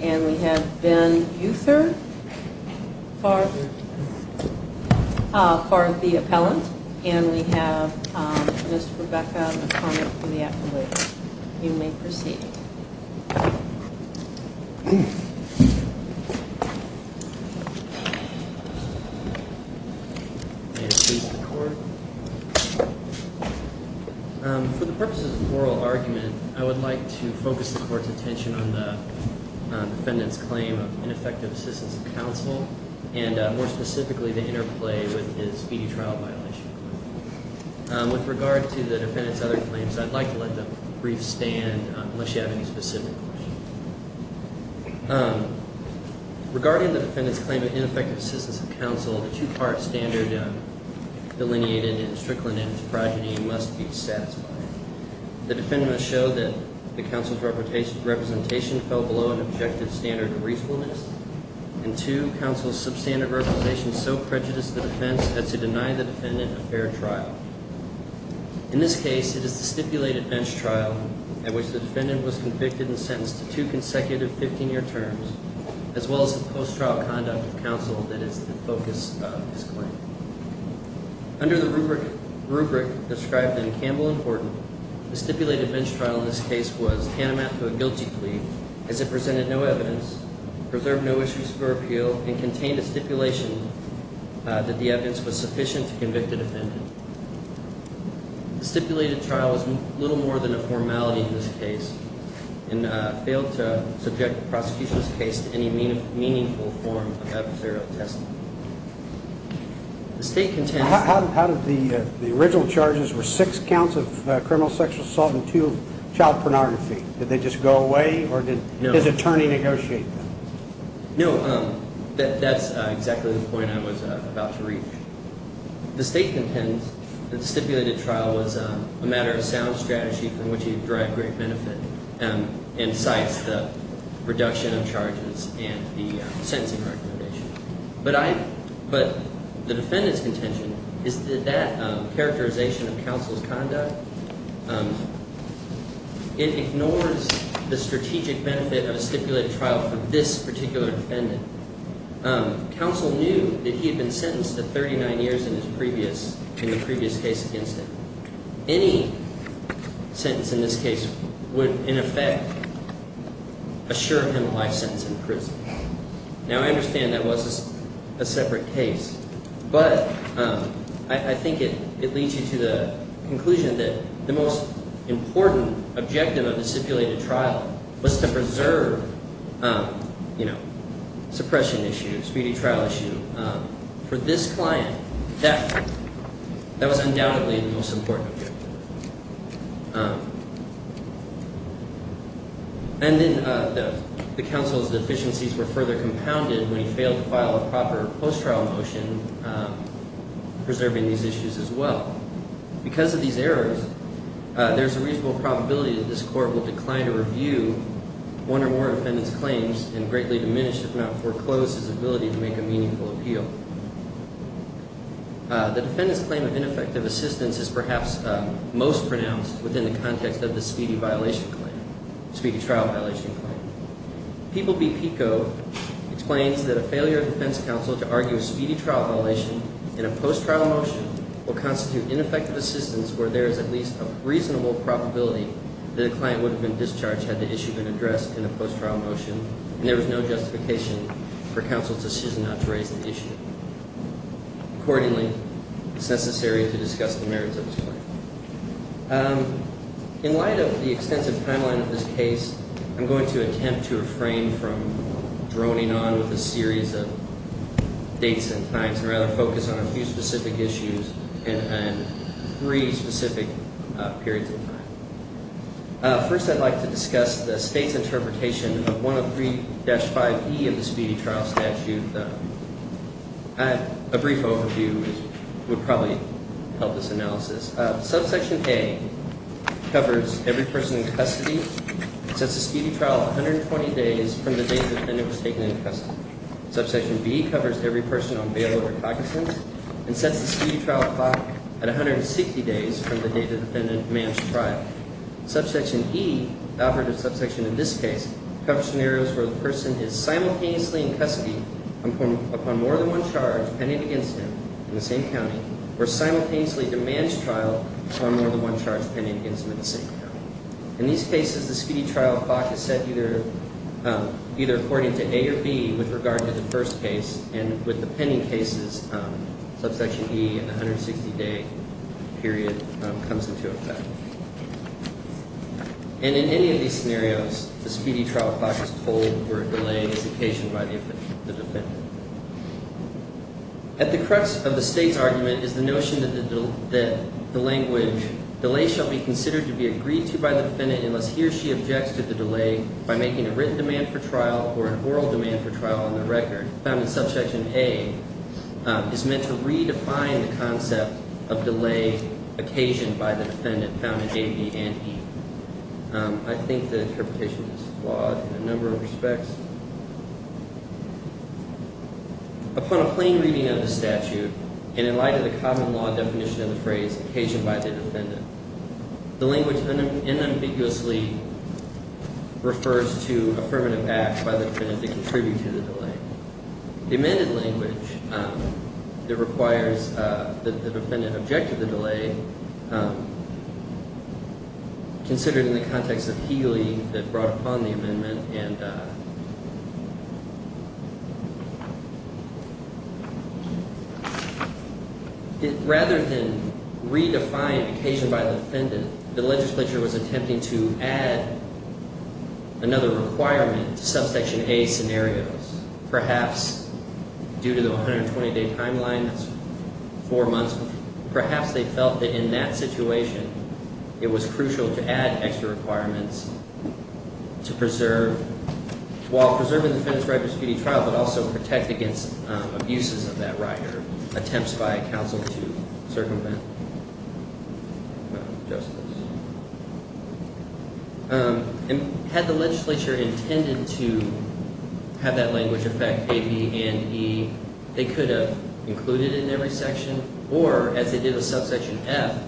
and we have Ben Uther for the appellant, and we have Ms. Rebecca McCormick for the appellate. You may proceed. For the purposes of oral argument, I would like to focus the court's attention on the defendant's claim of ineffective assistance of counsel, and more specifically the interplay with his feeding trial violation. With regard to the defendant's other claims, I'd like to let the briefs stand unless you have any specific questions. Regarding the defendant's claim of ineffective assistance of counsel, the two-part standard delineated in Strickland and its progeny must be satisfied. The defendant must show that the counsel's representation fell below an objective standard of reasonableness, and two, counsel's substandard representation so prejudiced the defense that she denied the defendant a fair trial. In this case, it is the stipulated bench trial at which the defendant was convicted and sentenced to two consecutive 15-year terms, as well as the post-trial conduct of counsel that is the focus of his claim. Under the rubric described in Campbell and Horton, the stipulated bench trial in this case was tantamount to a guilty plea, as it presented no evidence, preserved no issues for appeal, and contained a stipulation that the evidence was sufficient to convict the defendant. The stipulated trial was little more than a formality in this case, and failed to subject the prosecution's case to any meaningful form of adversarial testimony. The State contends… How did the original charges were six counts of criminal sexual assault and two of child pornography? Did they just go away, or did his attorney negotiate them? No, that's exactly the point I was about to reach. The State contends that the stipulated trial was a matter of sound strategy from which he derived great benefit and cites the reduction of charges and the sentencing recommendation. But I – but the defendant's contention is that that characterization of counsel's conduct, it ignores the strategic benefit of a stipulated trial for this particular defendant. Counsel knew that he had been sentenced to 39 years in his previous – in the previous case against him. Any sentence in this case would, in effect, assure him a life sentence in prison. Now, I understand that was a separate case, but I think it leads you to the conclusion that the most important objective of the stipulated trial was to preserve, you know, suppression issues, speedy trial issues. For this client, that was undoubtedly the most important objective. And then the counsel's deficiencies were further compounded when he failed to file a proper post-trial motion preserving these issues as well. Because of these errors, there's a reasonable probability that this court will decline to review one or more of the defendant's claims and greatly diminish, if not foreclose, his ability to make a meaningful appeal. The defendant's claim of ineffective assistance is perhaps most pronounced within the context of the speedy violation claim – speedy trial violation claim. People v. PICO explains that a failure of defense counsel to argue a speedy trial violation in a post-trial motion will constitute ineffective assistance where there is at least a reasonable probability that a client would have been discharged had the issue been addressed in a post-trial motion and there was no justification for counsel's decision not to raise the issue. Accordingly, it's necessary to discuss the merits of this claim. In light of the extensive timeline of this case, I'm going to attempt to refrain from droning on with a series of dates and times and rather focus on a few specific issues and three specific periods of time. First, I'd like to discuss the state's interpretation of 103-5E of the speedy trial statute. A brief overview would probably help this analysis. Subsection A covers every person in custody and sets the speedy trial at 120 days from the date the defendant was taken into custody. Subsection B covers every person on bail or cognizance and sets the speedy trial clock at 160 days from the date the defendant demands trial. Subsection E, the operative subsection in this case, covers scenarios where the person is simultaneously in custody upon more than one charge pending against him in the same county or simultaneously demands trial upon more than one charge pending against him in the same county. In these cases, the speedy trial clock is set either according to A or B with regard to the first case, and with the pending cases, subsection E and the 160-day period comes into effect. And in any of these scenarios, the speedy trial clock is told where a delay is occasioned by the defendant. At the crux of the state's argument is the notion that the language, delay shall be considered to be agreed to by the defendant unless he or she objects to the delay by making a written demand for trial or an oral demand for trial on the record, found in subsection A, is meant to redefine the concept of delay occasioned by the defendant found in A, B, and E. I think the interpretation is flawed in a number of respects. Upon a plain reading of the statute and in light of the common law definition of the phrase occasioned by the defendant, the language unambiguously refers to affirmative acts by the defendant that contribute to the delay. The amended language that requires that the defendant object to the delay, considered in the context of Healy that brought upon the amendment, and rather than redefine occasioned by the defendant, the legislature was attempting to add another requirement to subsection A scenarios. Perhaps due to the 120-day timeline, that's four months, perhaps they felt that in that situation it was crucial to add extra requirements to preserve, while preserving the defendant's right to speedy trial, but also protect against abuses of that right or attempts by counsel to circumvent. And had the legislature intended to have that language affect A, B, and E, they could have included it in every section, or as they did with subsection F,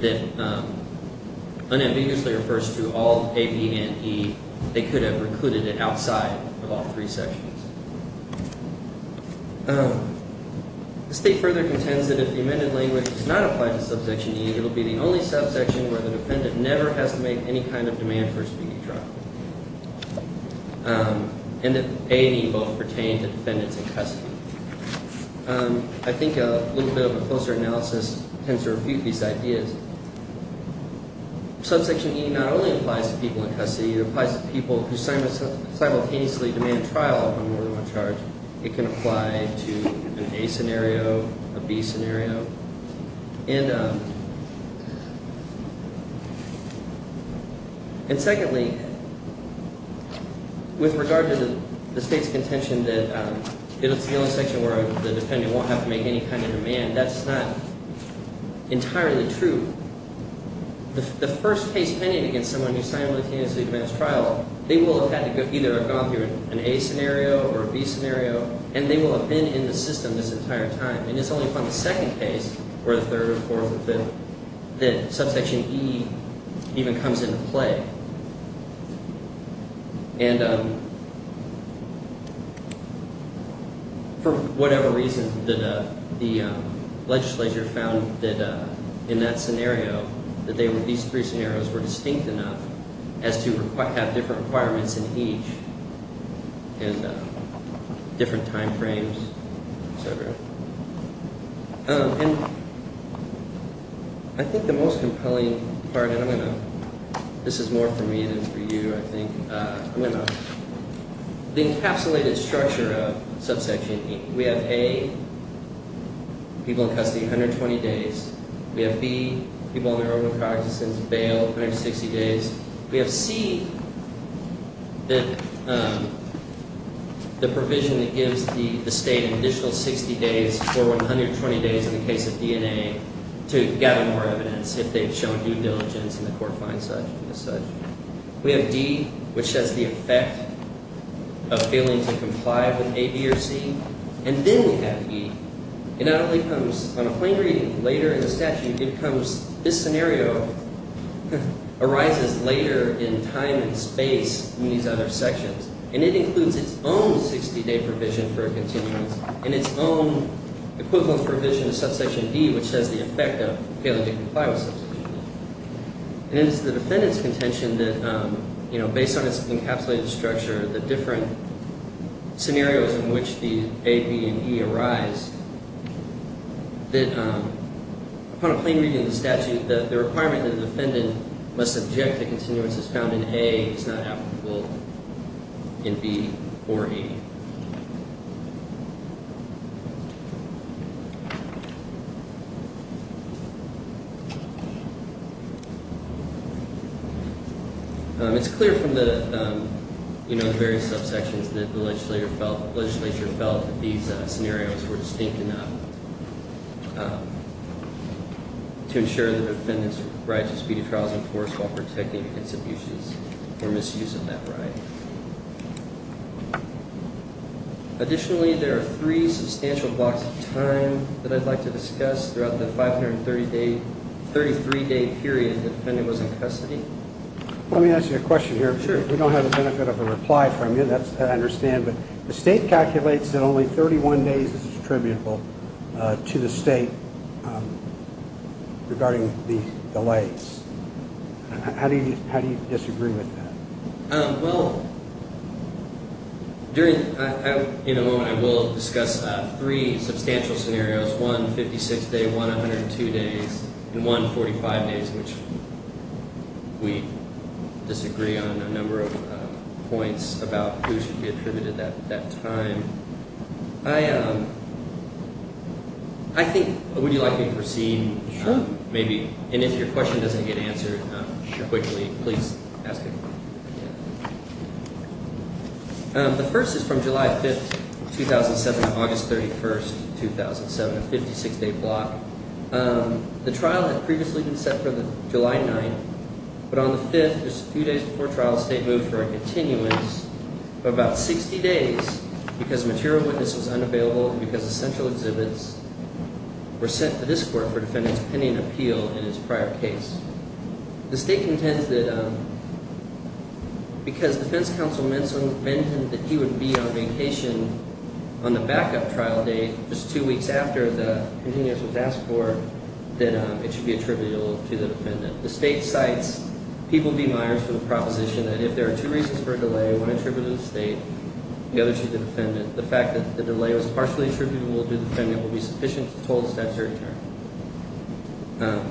that unambiguously refers to all A, B, and E, they could have included it outside of all three sections. The state further contends that if the amended language does not apply to subsection E, it will be the only subsection where the defendant never has to make any kind of demand for a speedy trial, and that A and E both pertain to defendants in custody. I think a little bit of a closer analysis tends to refute these ideas. Subsection E not only applies to people in custody, it applies to people who simultaneously demand trial if I'm more than one charge. It can apply to an A scenario, a B scenario. And secondly, with regard to the state's contention that it's the only section where the defendant won't have to make any kind of demand, that's not entirely true. The first case pending against someone who simultaneously demands trial, they will have had to either have gone through an A scenario or a B scenario, and they will have been in the system this entire time. And it's only upon the second case, or the third or fourth or fifth, that subsection E even comes into play. And for whatever reason, the legislature found that in that scenario, that these three scenarios were distinct enough as to have different requirements in each, and different time frames, etc. And I think the most compelling part, and I'm going to, this is more for me than for you, I think, I'm going to, the encapsulated structure of subsection E, we have A, people in custody, 120 days. We have B, people on their own with cognizance, bail, 160 days. We have C, the provision that gives the state an additional 60 days, or 120 days in the case of DNA, to gather more evidence if they've shown due diligence and the court finds such and such. We have D, which has the effect of failing to comply with A, B, or C. And then we have E. It not only comes on a plain reading later in the statute, it comes, this scenario arises later in time and space in these other sections. And it includes its own 60-day provision for a continuance, and its own equivalent provision to subsection D, which has the effect of failing to comply with subsection E. And it is the defendant's contention that, you know, based on its encapsulated structure, the different scenarios in which the A, B, and E arise, that upon a plain reading of the statute, the requirement that the defendant must object to continuances found in A is not applicable in B or E. It's clear from the various subsections that the legislature felt that these scenarios were distinct enough to ensure the defendant's right to speedy trial is enforced while protecting against abuses or misuse of that right. Additionally, there are three substantial blocks of time that I'd like to discuss throughout the 530-day, 33-day period the defendant was in custody. Let me ask you a question here. Sure. We don't have the benefit of a reply from you, that I understand. But the state calculates that only 31 days is attributable to the state regarding the delays. How do you disagree with that? Well, in a moment I will discuss three substantial scenarios, one 56-day, one 102-days, and one 45-days, which we disagree on a number of points about who should be attributed that time. I think, would you like me to proceed? Sure. And if your question doesn't get answered quickly, please ask it. The first is from July 5th, 2007, August 31st, 2007, a 56-day block. The trial had previously been set for July 9th, but on the 5th, just a few days before trial, the state moved for a continuance for about 60 days because a material witness was unavailable and because essential exhibits were sent to this court for the defendant's pending appeal in his prior case. The state contends that because defense counsel mentioned that he would be on vacation on the backup trial date just two weeks after the continuance was asked for, that it should be attributable to the defendant. The state cites People v. Myers for the proposition that if there are two reasons for a delay, one attributable to the state, the other to the defendant, the fact that the delay was partially attributable to the defendant would be sufficient to hold the statute to return.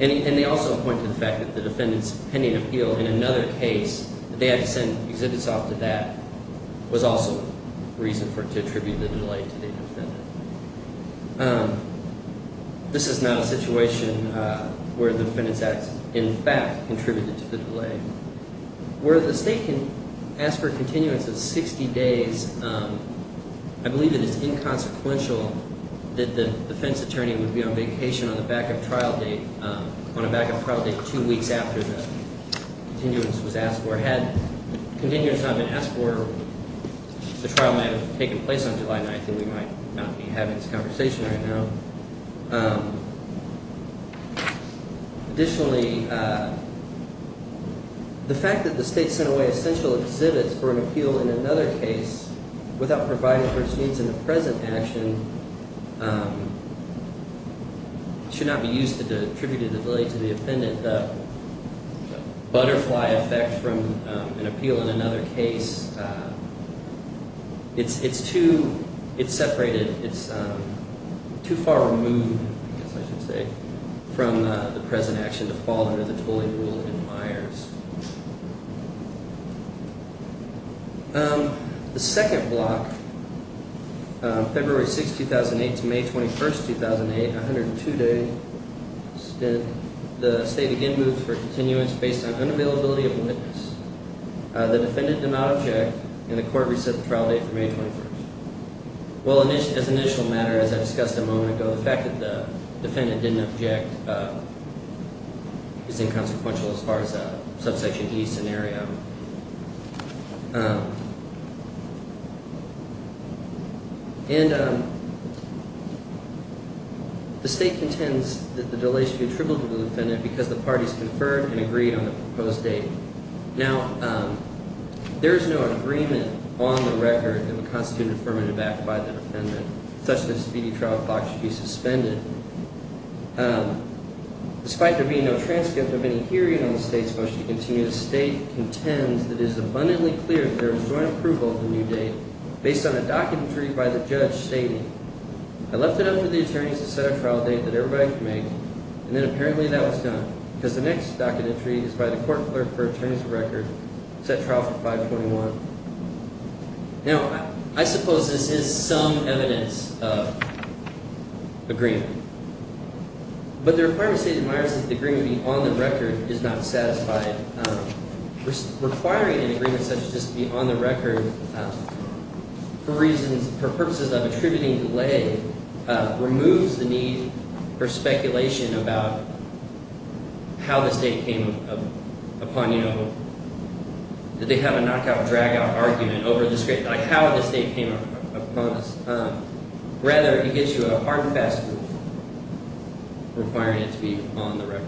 And they also point to the fact that the defendant's pending appeal in another case, that they had to send exhibits off to that, was also a reason to attribute the delay to the defendant. This is not a situation where the defendant's acts in fact contributed to the delay. Where the state can ask for continuance of 60 days, I believe that it's inconsequential that the defense attorney would be on vacation on the backup trial date, on a backup trial date two weeks after the continuance was asked for. Had continuance not been asked for, the trial might have taken place on July 9th, and we might not be having this conversation right now. Additionally, the fact that the state sent away essential exhibits for an appeal in another case, without providing for its needs in the present action, should not be used to attribute the delay to the defendant. The butterfly effect from an appeal in another case, it's too, it's separated, it's too far removed, I guess I should say, from the present action to fall under the tolling rule in Myers. The second block, February 6th, 2008 to May 21st, 2008, a 102-day stint, the state again moved for continuance based on unavailability of a witness. The defendant did not object, and the court reset the trial date to May 21st. Well, as an initial matter, as I discussed a moment ago, the fact that the defendant didn't object is inconsequential as far as a subsection E scenario. And the state contends that the delay should be attributed to the defendant because the parties conferred and agreed on the proposed date. Now, there is no agreement on the record that would constitute an affirmative act by the defendant, such that a speedy trial clock should be suspended. Despite there being no transcript of any hearing on the state's motion to continue, the state contends that it is abundantly clear that there was joint approval of the new date based on a documentary by the judge stating, I left it up to the attorneys to set a trial date that everybody could make, and then apparently that was done. Because the next documentary is by the court clerk for attorneys of record, set trial for 5-21. Now, I suppose this is some evidence of agreement. But the requirement stated in Myers is that the agreement be on the record is not satisfied. Requiring an agreement such as this to be on the record for purposes of attributing delay removes the need for speculation about how this date came upon you. Did they have a knockout-dragout argument over how this date came upon us? Rather, it gives you a hard and fast rule requiring it to be on the record.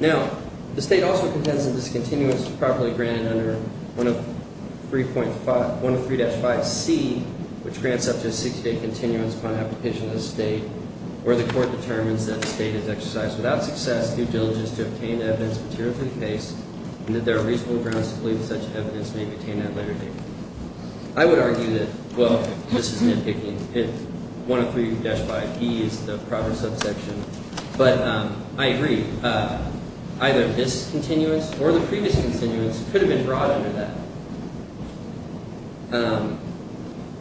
Now, the state also contends that this continuance was properly granted under 103-5C, which grants up to a 60-day continuance upon application to the state, where the court determines that the state has exercised, without success, due diligence to obtain evidence materially based, and that there are reasonable grounds to believe that such evidence may be obtained at a later date. I would argue that, well, this is nitpicking if 103-5E is the proper subsection. But I agree. Either this continuance or the previous continuance could have been brought under that.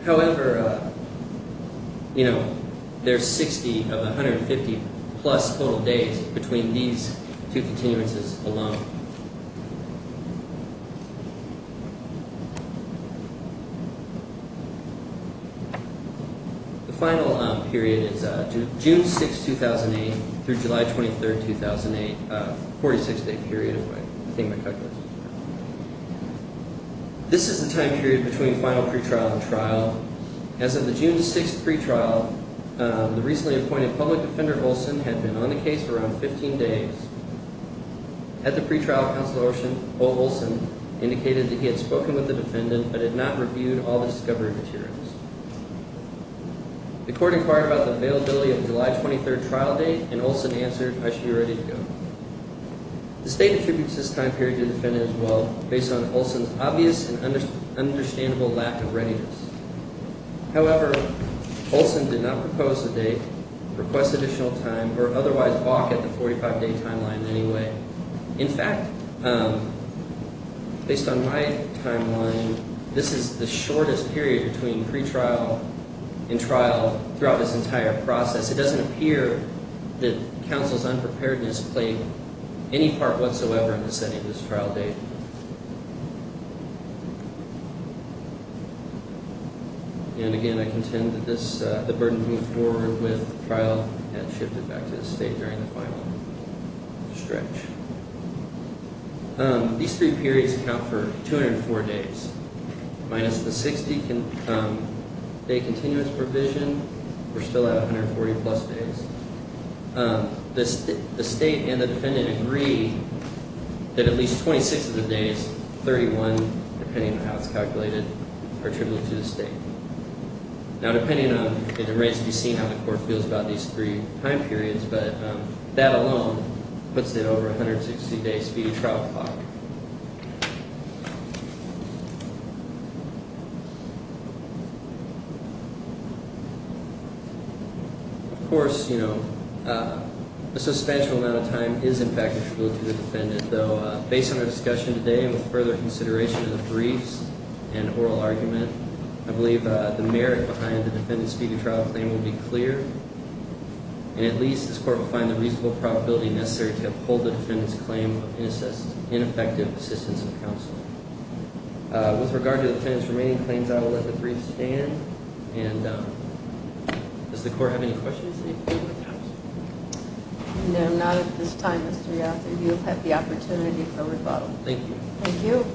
However, there's 60 of 150-plus total days between these two continuances alone. The final period is June 6, 2008 through July 23, 2008, a 46-day period, if I think my calculus is correct. This is the time period between final pretrial and trial. As of the June 6 pretrial, the recently appointed public defender, Olson, had been on the case for around 15 days. At the pretrial, Counselor Olson indicated that he had spoken with the defendant but had not reviewed all the discovery materials. The court inquired about the availability of the July 23 trial date, and Olson answered, I should be ready to go. The state attributes this time period to the defendant as well, based on Olson's obvious and understandable lack of readiness. However, Olson did not propose a date, request additional time, or otherwise balk at the 45-day timeline in any way. In fact, based on my timeline, this is the shortest period between pretrial and trial throughout this entire process. It doesn't appear that Counsel's unpreparedness played any part whatsoever in the setting of this trial date. And again, I contend that the burden to move forward with the trial had shifted back to the state during the final stretch. These three periods account for 204 days. Minus the 60-day continuous provision, we're still at 140-plus days. The state and the defendant agree that at least 26 of the days, 31 depending on how it's calculated, are attributable to the state. Now, depending on the rates, we've seen how the court feels about these three time periods, but that alone puts it over 160 days to be a trial clock. Of course, you know, a substantial amount of time is in fact attributable to the defendant. Though, based on our discussion today and with further consideration of the briefs and oral argument, I believe the merit behind the defendant's speedy trial claim will be clear. And at least this court will find the reasonable probability necessary to uphold the defendant's claim of ineffective assistance of counsel. With regard to the defendant's remaining claims, I will let the briefs stand. And does the court have any questions? No, not at this time, Mr. Yost. You have had the opportunity for rebuttal. Thank you. Thank you.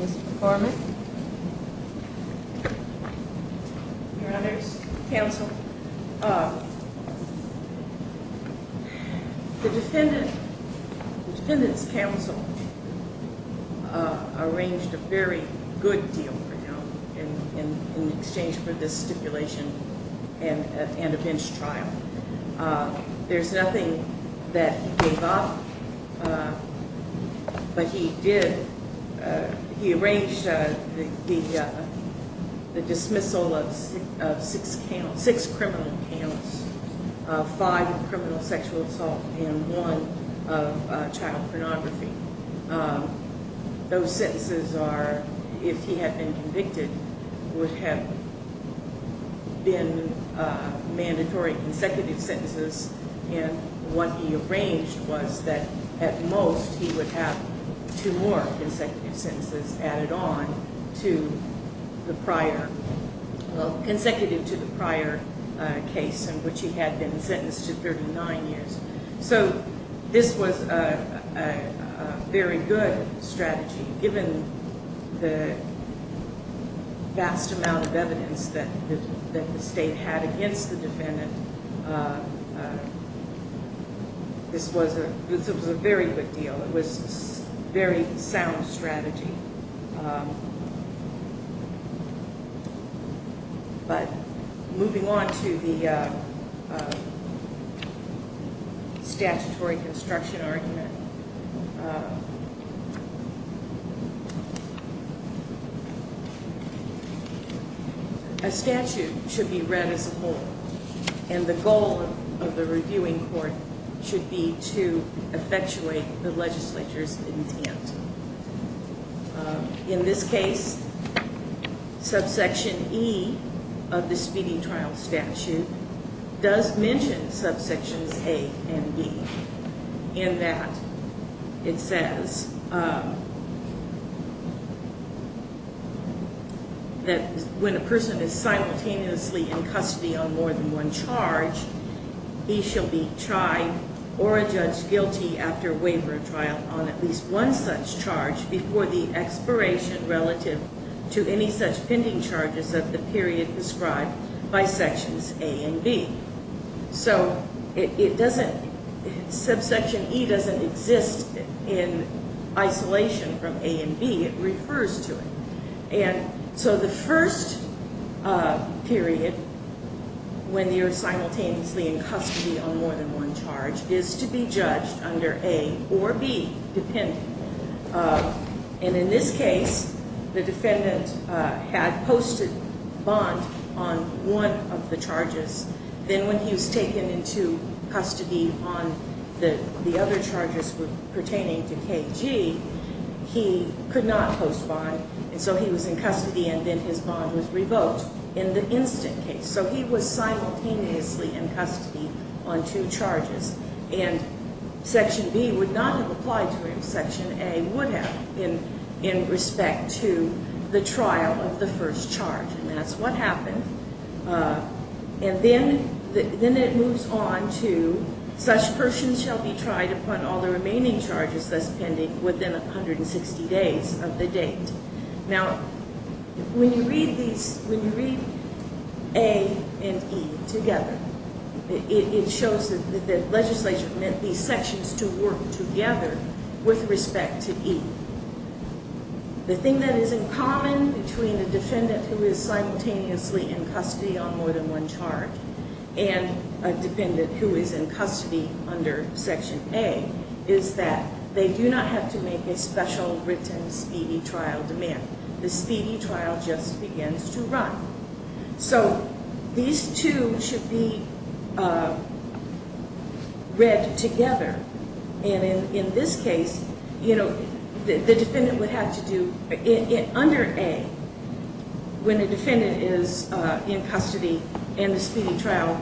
Mr. Foreman? Your Honor's counsel, the defendant's counsel arranged a very good deal for him in exchange for this stipulation and a bench trial. There's nothing that he gave up, but he did, he arranged the dismissal of six criminal counts, five of criminal sexual assault and one of child pornography. Those sentences are, if he had been convicted, would have been mandatory consecutive sentences. And what he arranged was that at most he would have two more consecutive sentences added on to the prior, consecutive to the prior case in which he had been sentenced to 39 years. So this was a very good strategy. Given the vast amount of evidence that the State had against the defendant, this was a very good deal. It was a very sound strategy. But moving on to the statutory construction argument, a statute should be read as a whole, and the goal of the reviewing court should be to effectuate the legislature's intent. In this case, subsection E of the speeding trial statute does mention subsections A and B in that it says that when a person is simultaneously in custody on more than one charge, he shall be tried or judged guilty after waiver of trial on at least one such charge before the expiration relative to any such pending charges of the period described by sections A and B. So it doesn't, subsection E doesn't exist in isolation from A and B, it refers to it. And so the first period when you're simultaneously in custody on more than one charge is to be judged under A or B depending. And in this case, the defendant had posted bond on one of the charges. Then when he was taken into custody on the other charges pertaining to KG, he could not post bond, and so he was in custody and then his bond was revoked in the instant case. So he was simultaneously in custody on two charges. And section B would not have applied to him. Section A would have in respect to the trial of the first charge, and that's what happened. And then it moves on to such persons shall be tried upon all the remaining charges thus pending within 160 days of the date. Now, when you read these, when you read A and E together, it shows that the legislature meant these sections to work together with respect to E. The thing that is in common between a defendant who is simultaneously in custody on more than one charge and a defendant who is in custody under section A is that they do not have to make a special written speedy trial demand. The speedy trial just begins to run. So these two should be read together. And in this case, you know, the defendant would have to do, under A, when the defendant is in custody and the speedy trial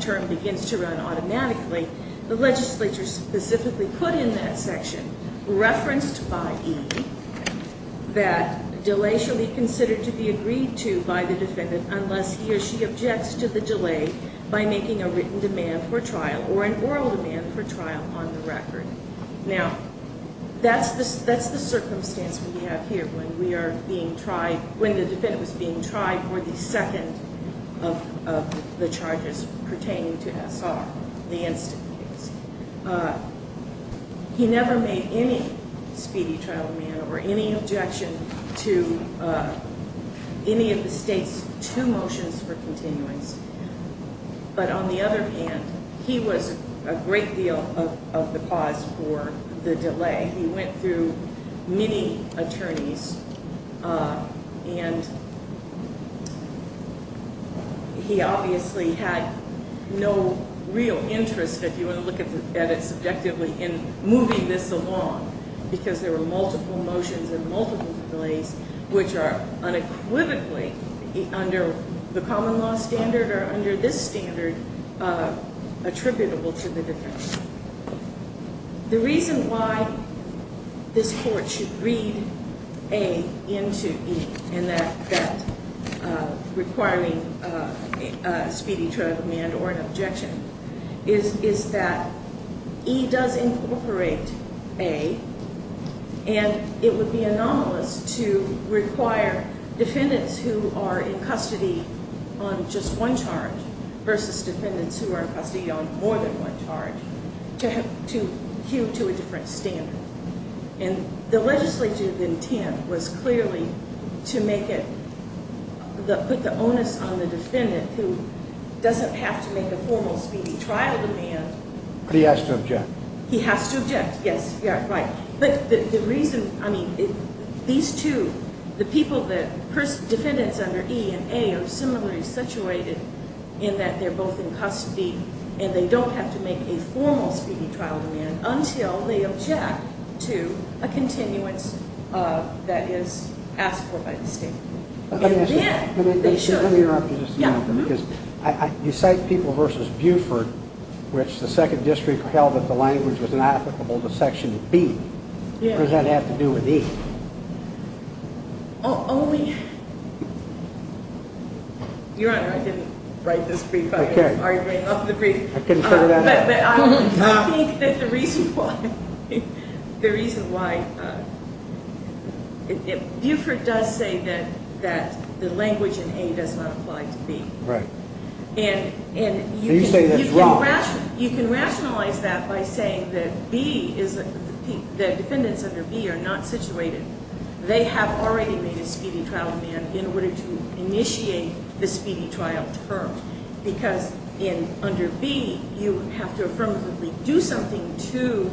term begins to run automatically, the legislature specifically put in that section, referenced by E, that delay shall be considered to be agreed to by the defendant unless he or she objects to the delay by making a written demand for trial or an oral demand for trial on the record. Now, that's the circumstance we have here when we are being tried, when the defendant was being tried for the second of the charges pertaining to SR, the instant case. He never made any speedy trial demand or any objection to any of the state's two motions for continuance. But on the other hand, he was a great deal of the cause for the delay. He went through many attorneys, and he obviously had no real interest, if you want to look at it subjectively, in moving this along because there were multiple motions and multiple delays, which are unequivocally, under the common law standard or under this standard, attributable to the defendant. The reason why this court should read A into E in that requiring a speedy trial demand or an objection is that E does incorporate A, and it would be anomalous to require defendants who are in custody on just one charge versus defendants who are in custody on more than one charge to queue to a different standard. And the legislative intent was clearly to put the onus on the defendant who doesn't have to make a formal speedy trial demand. But he has to object. He has to object, yes, yeah, right. But the reason, I mean, these two, the people, the defendants under E and A are similarly situated in that they're both in custody, and they don't have to make a formal speedy trial demand until they object to a continuance that is asked for by the state. Let me interrupt you just a moment. Because you cite people versus Buford, which the Second District held that the language was not applicable to Section B. What does that have to do with E? Your Honor, I didn't write this brief. Are you writing off the brief? I couldn't figure that out. But I think that the reason why Buford does say that the language in A does not apply to B. Right. And you can rationalize that by saying that the defendants under B are not situated. They have already made a speedy trial demand in order to initiate the speedy trial term. Because under B, you have to affirmatively do something to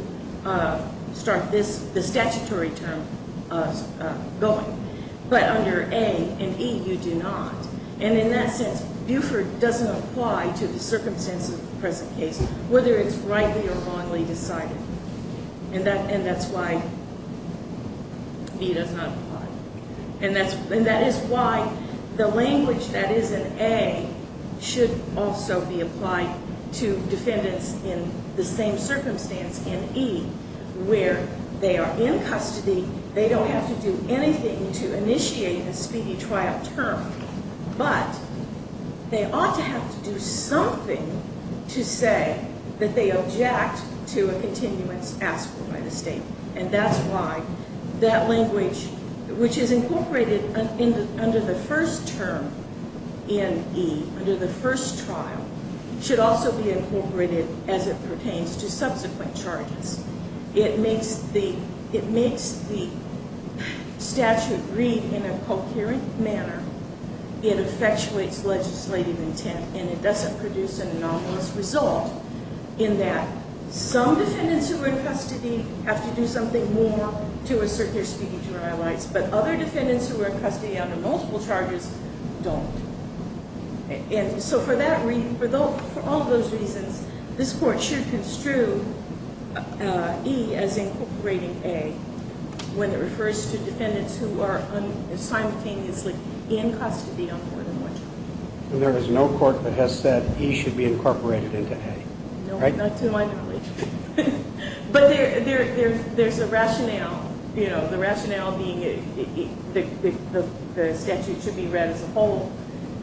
start the statutory term going. But under A and E, you do not. And in that sense, Buford doesn't apply to the circumstances of the present case, whether it's rightly or wrongly decided. And that's why B does not apply. And that is why the language that is in A should also be applied to defendants in the same circumstance in E, where they are in custody. They don't have to do anything to initiate a speedy trial term. But they ought to have to do something to say that they object to a continuance asked for by the State. And that's why that language, which is incorporated under the first term in E, under the first trial, should also be incorporated as it pertains to subsequent charges. It makes the statute read in a coherent manner. It effectuates legislative intent. And it doesn't produce an anomalous result in that some defendants who are in custody have to do something more to assert their speedy trial rights. But other defendants who are in custody under multiple charges don't. And so for all those reasons, this Court should construe E as incorporating A when it refers to defendants who are simultaneously in custody on more than one charge. And there is no Court that has said E should be incorporated into A, right? No, not to my knowledge. But there's a rationale. You know, the rationale being that the statute should be read as a whole.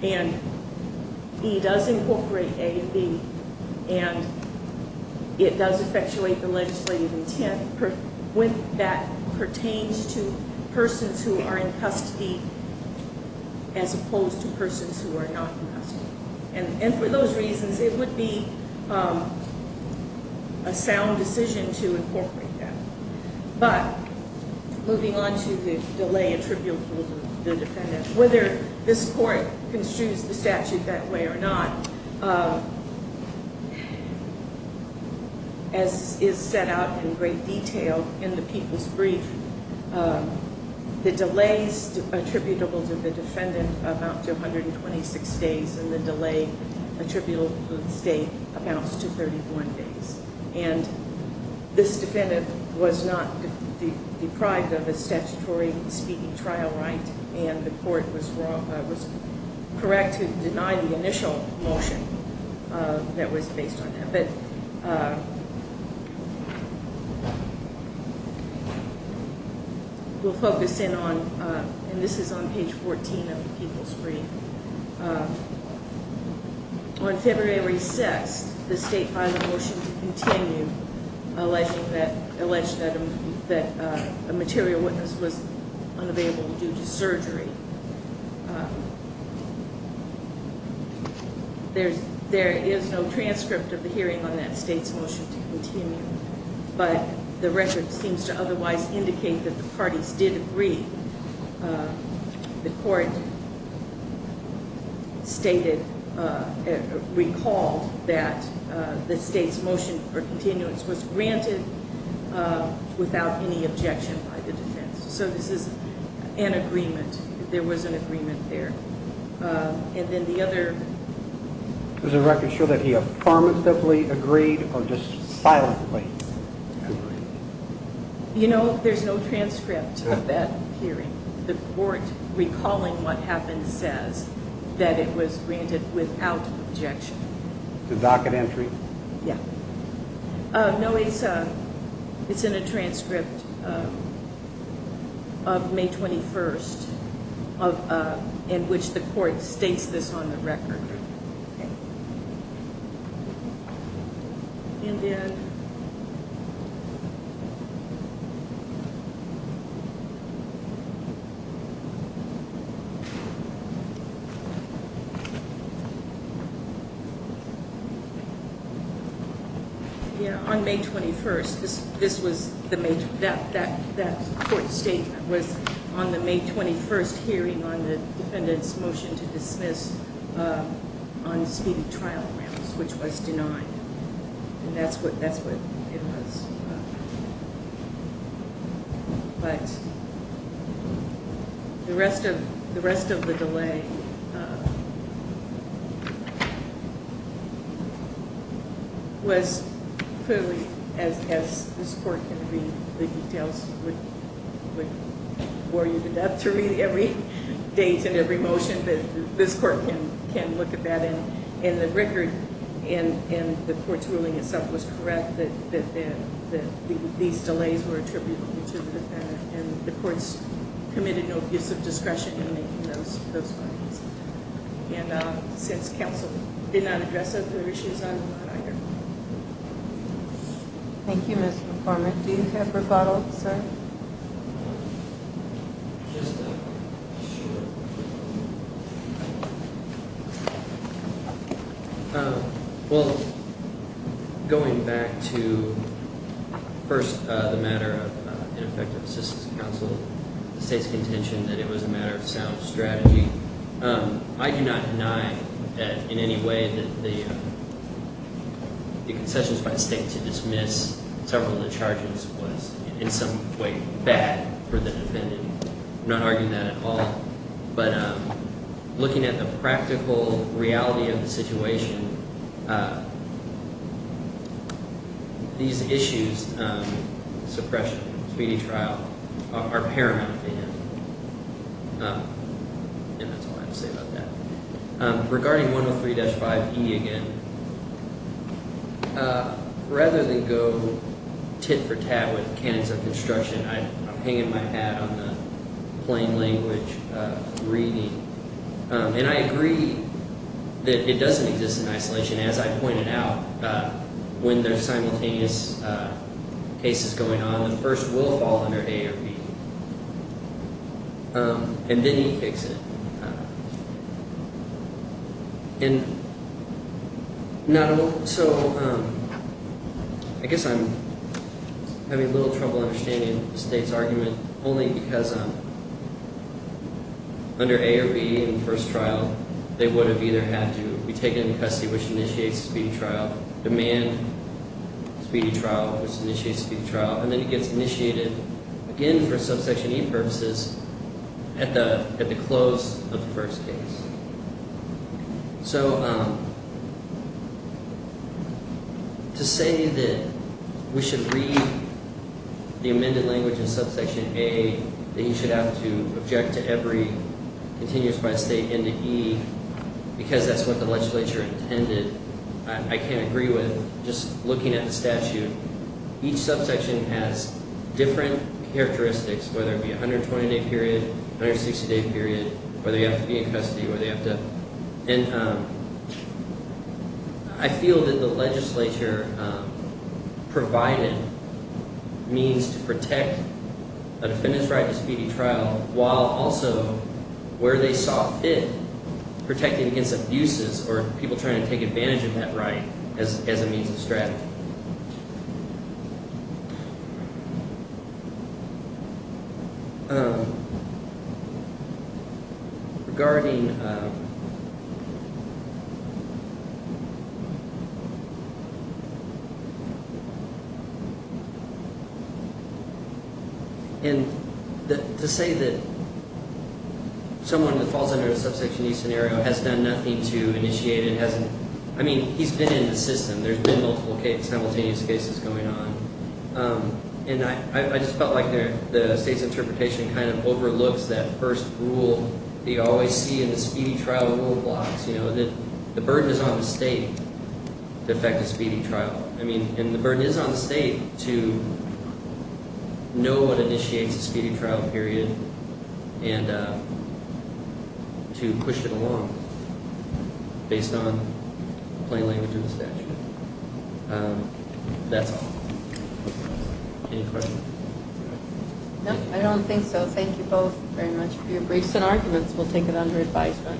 And E does incorporate A and B. And it does effectuate the legislative intent with that pertains to persons who are in custody as opposed to persons who are not in custody. And for those reasons, it would be a sound decision to incorporate that. But moving on to the delay attributable to the defendant, whether this Court construes the statute that way or not, as is set out in great detail in the People's Brief, the delays attributable to the defendant amount to 126 days, and the delay attributable to the state amounts to 31 days. And this defendant was not deprived of a statutory speaking trial right, and the Court was correct to deny the initial motion that was based on that. But we'll focus in on, and this is on page 14 of the People's Brief. On February 6th, the state filed a motion to continue, alleging that a material witness was unavailable due to surgery. There is no transcript of the hearing on that state's motion to continue, but the record seems to otherwise indicate that the parties did agree. The Court stated, recalled that the state's motion for continuance was granted without any objection by the defense. So this is an agreement. There was an agreement there. And then the other... Does the record show that he affirmatively agreed or just silently agreed? You know, there's no transcript of that hearing. The Court, recalling what happened, says that it was granted without objection. The docket entry? Yeah. No, it's in a transcript of May 21st, in which the Court states this on the record. Okay. And then... That Court statement was on the May 21st hearing on the defendant's motion to dismiss on speedy trial grounds, which was denied. And that's what it was. But the rest of the delay was clearly, as this Court can read the details, would bore you to death to read every date and every motion that this Court can look at that. And the record in the Court's ruling itself was correct, that these delays were attributable to the defendant. And the Court's committed no abuse of discretion in making those findings. And since counsel did not address those other issues, I'm not either. Thank you, Ms. McCormick. Do you have rebuttal, sir? Just to be sure. Well, going back to, first, the matter of ineffective assistance to counsel, the State's contention that it was a matter of sound strategy. I do not deny that, in any way, that the concessions by the State to dismiss several of the charges was, in some way, bad for the defendant. I'm not arguing that at all. But looking at the practical reality of the situation, these issues, suppression, speedy trial, are paramount to the defendant. And that's all I have to say about that. Regarding 103-5E again, rather than go tit for tat with canons of construction, I'm hanging my hat on the plain language of reading. And I agree that it doesn't exist in isolation. As I pointed out, when there are simultaneous cases going on, the first will fall under A or B. And then you fix it. And so I guess I'm having a little trouble understanding the State's argument only because under A or B in the first trial, they would have either had to be taken into custody, which initiates speedy trial, demand speedy trial, which initiates speedy trial, and then it gets initiated again for subsection E purposes at the close of the first case. So, to say that we should read the amended language in subsection A, that you should have to object to every continuous by State into E, because that's what the legislature intended, I can't agree with. Just looking at the statute, each subsection has different characteristics, whether it be 120-day period, 160-day period, whether you have to be in custody, whether you have to... And I feel that the legislature provided means to protect a defendant's right to speedy trial, while also, where they saw fit, protecting against abuses or people trying to take advantage of that right as a means of strategy. Regarding... And to say that someone that falls under a subsection E scenario has done nothing to initiate it, hasn't... I mean, he's been in the system, there's been multiple simultaneous cases going on, and I just felt like the State's interpretation kind of overlooks that first rule that you always see in the speedy trial rule blocks, you know, that the burden is on the State to effect a speedy trial. I mean, and the burden is on the State to know what initiates a speedy trial period and to push it along based on plain language in the statute. That's all. Any questions? No, I don't think so. Thank you both very much for your briefs and arguments. We'll take it under advisement.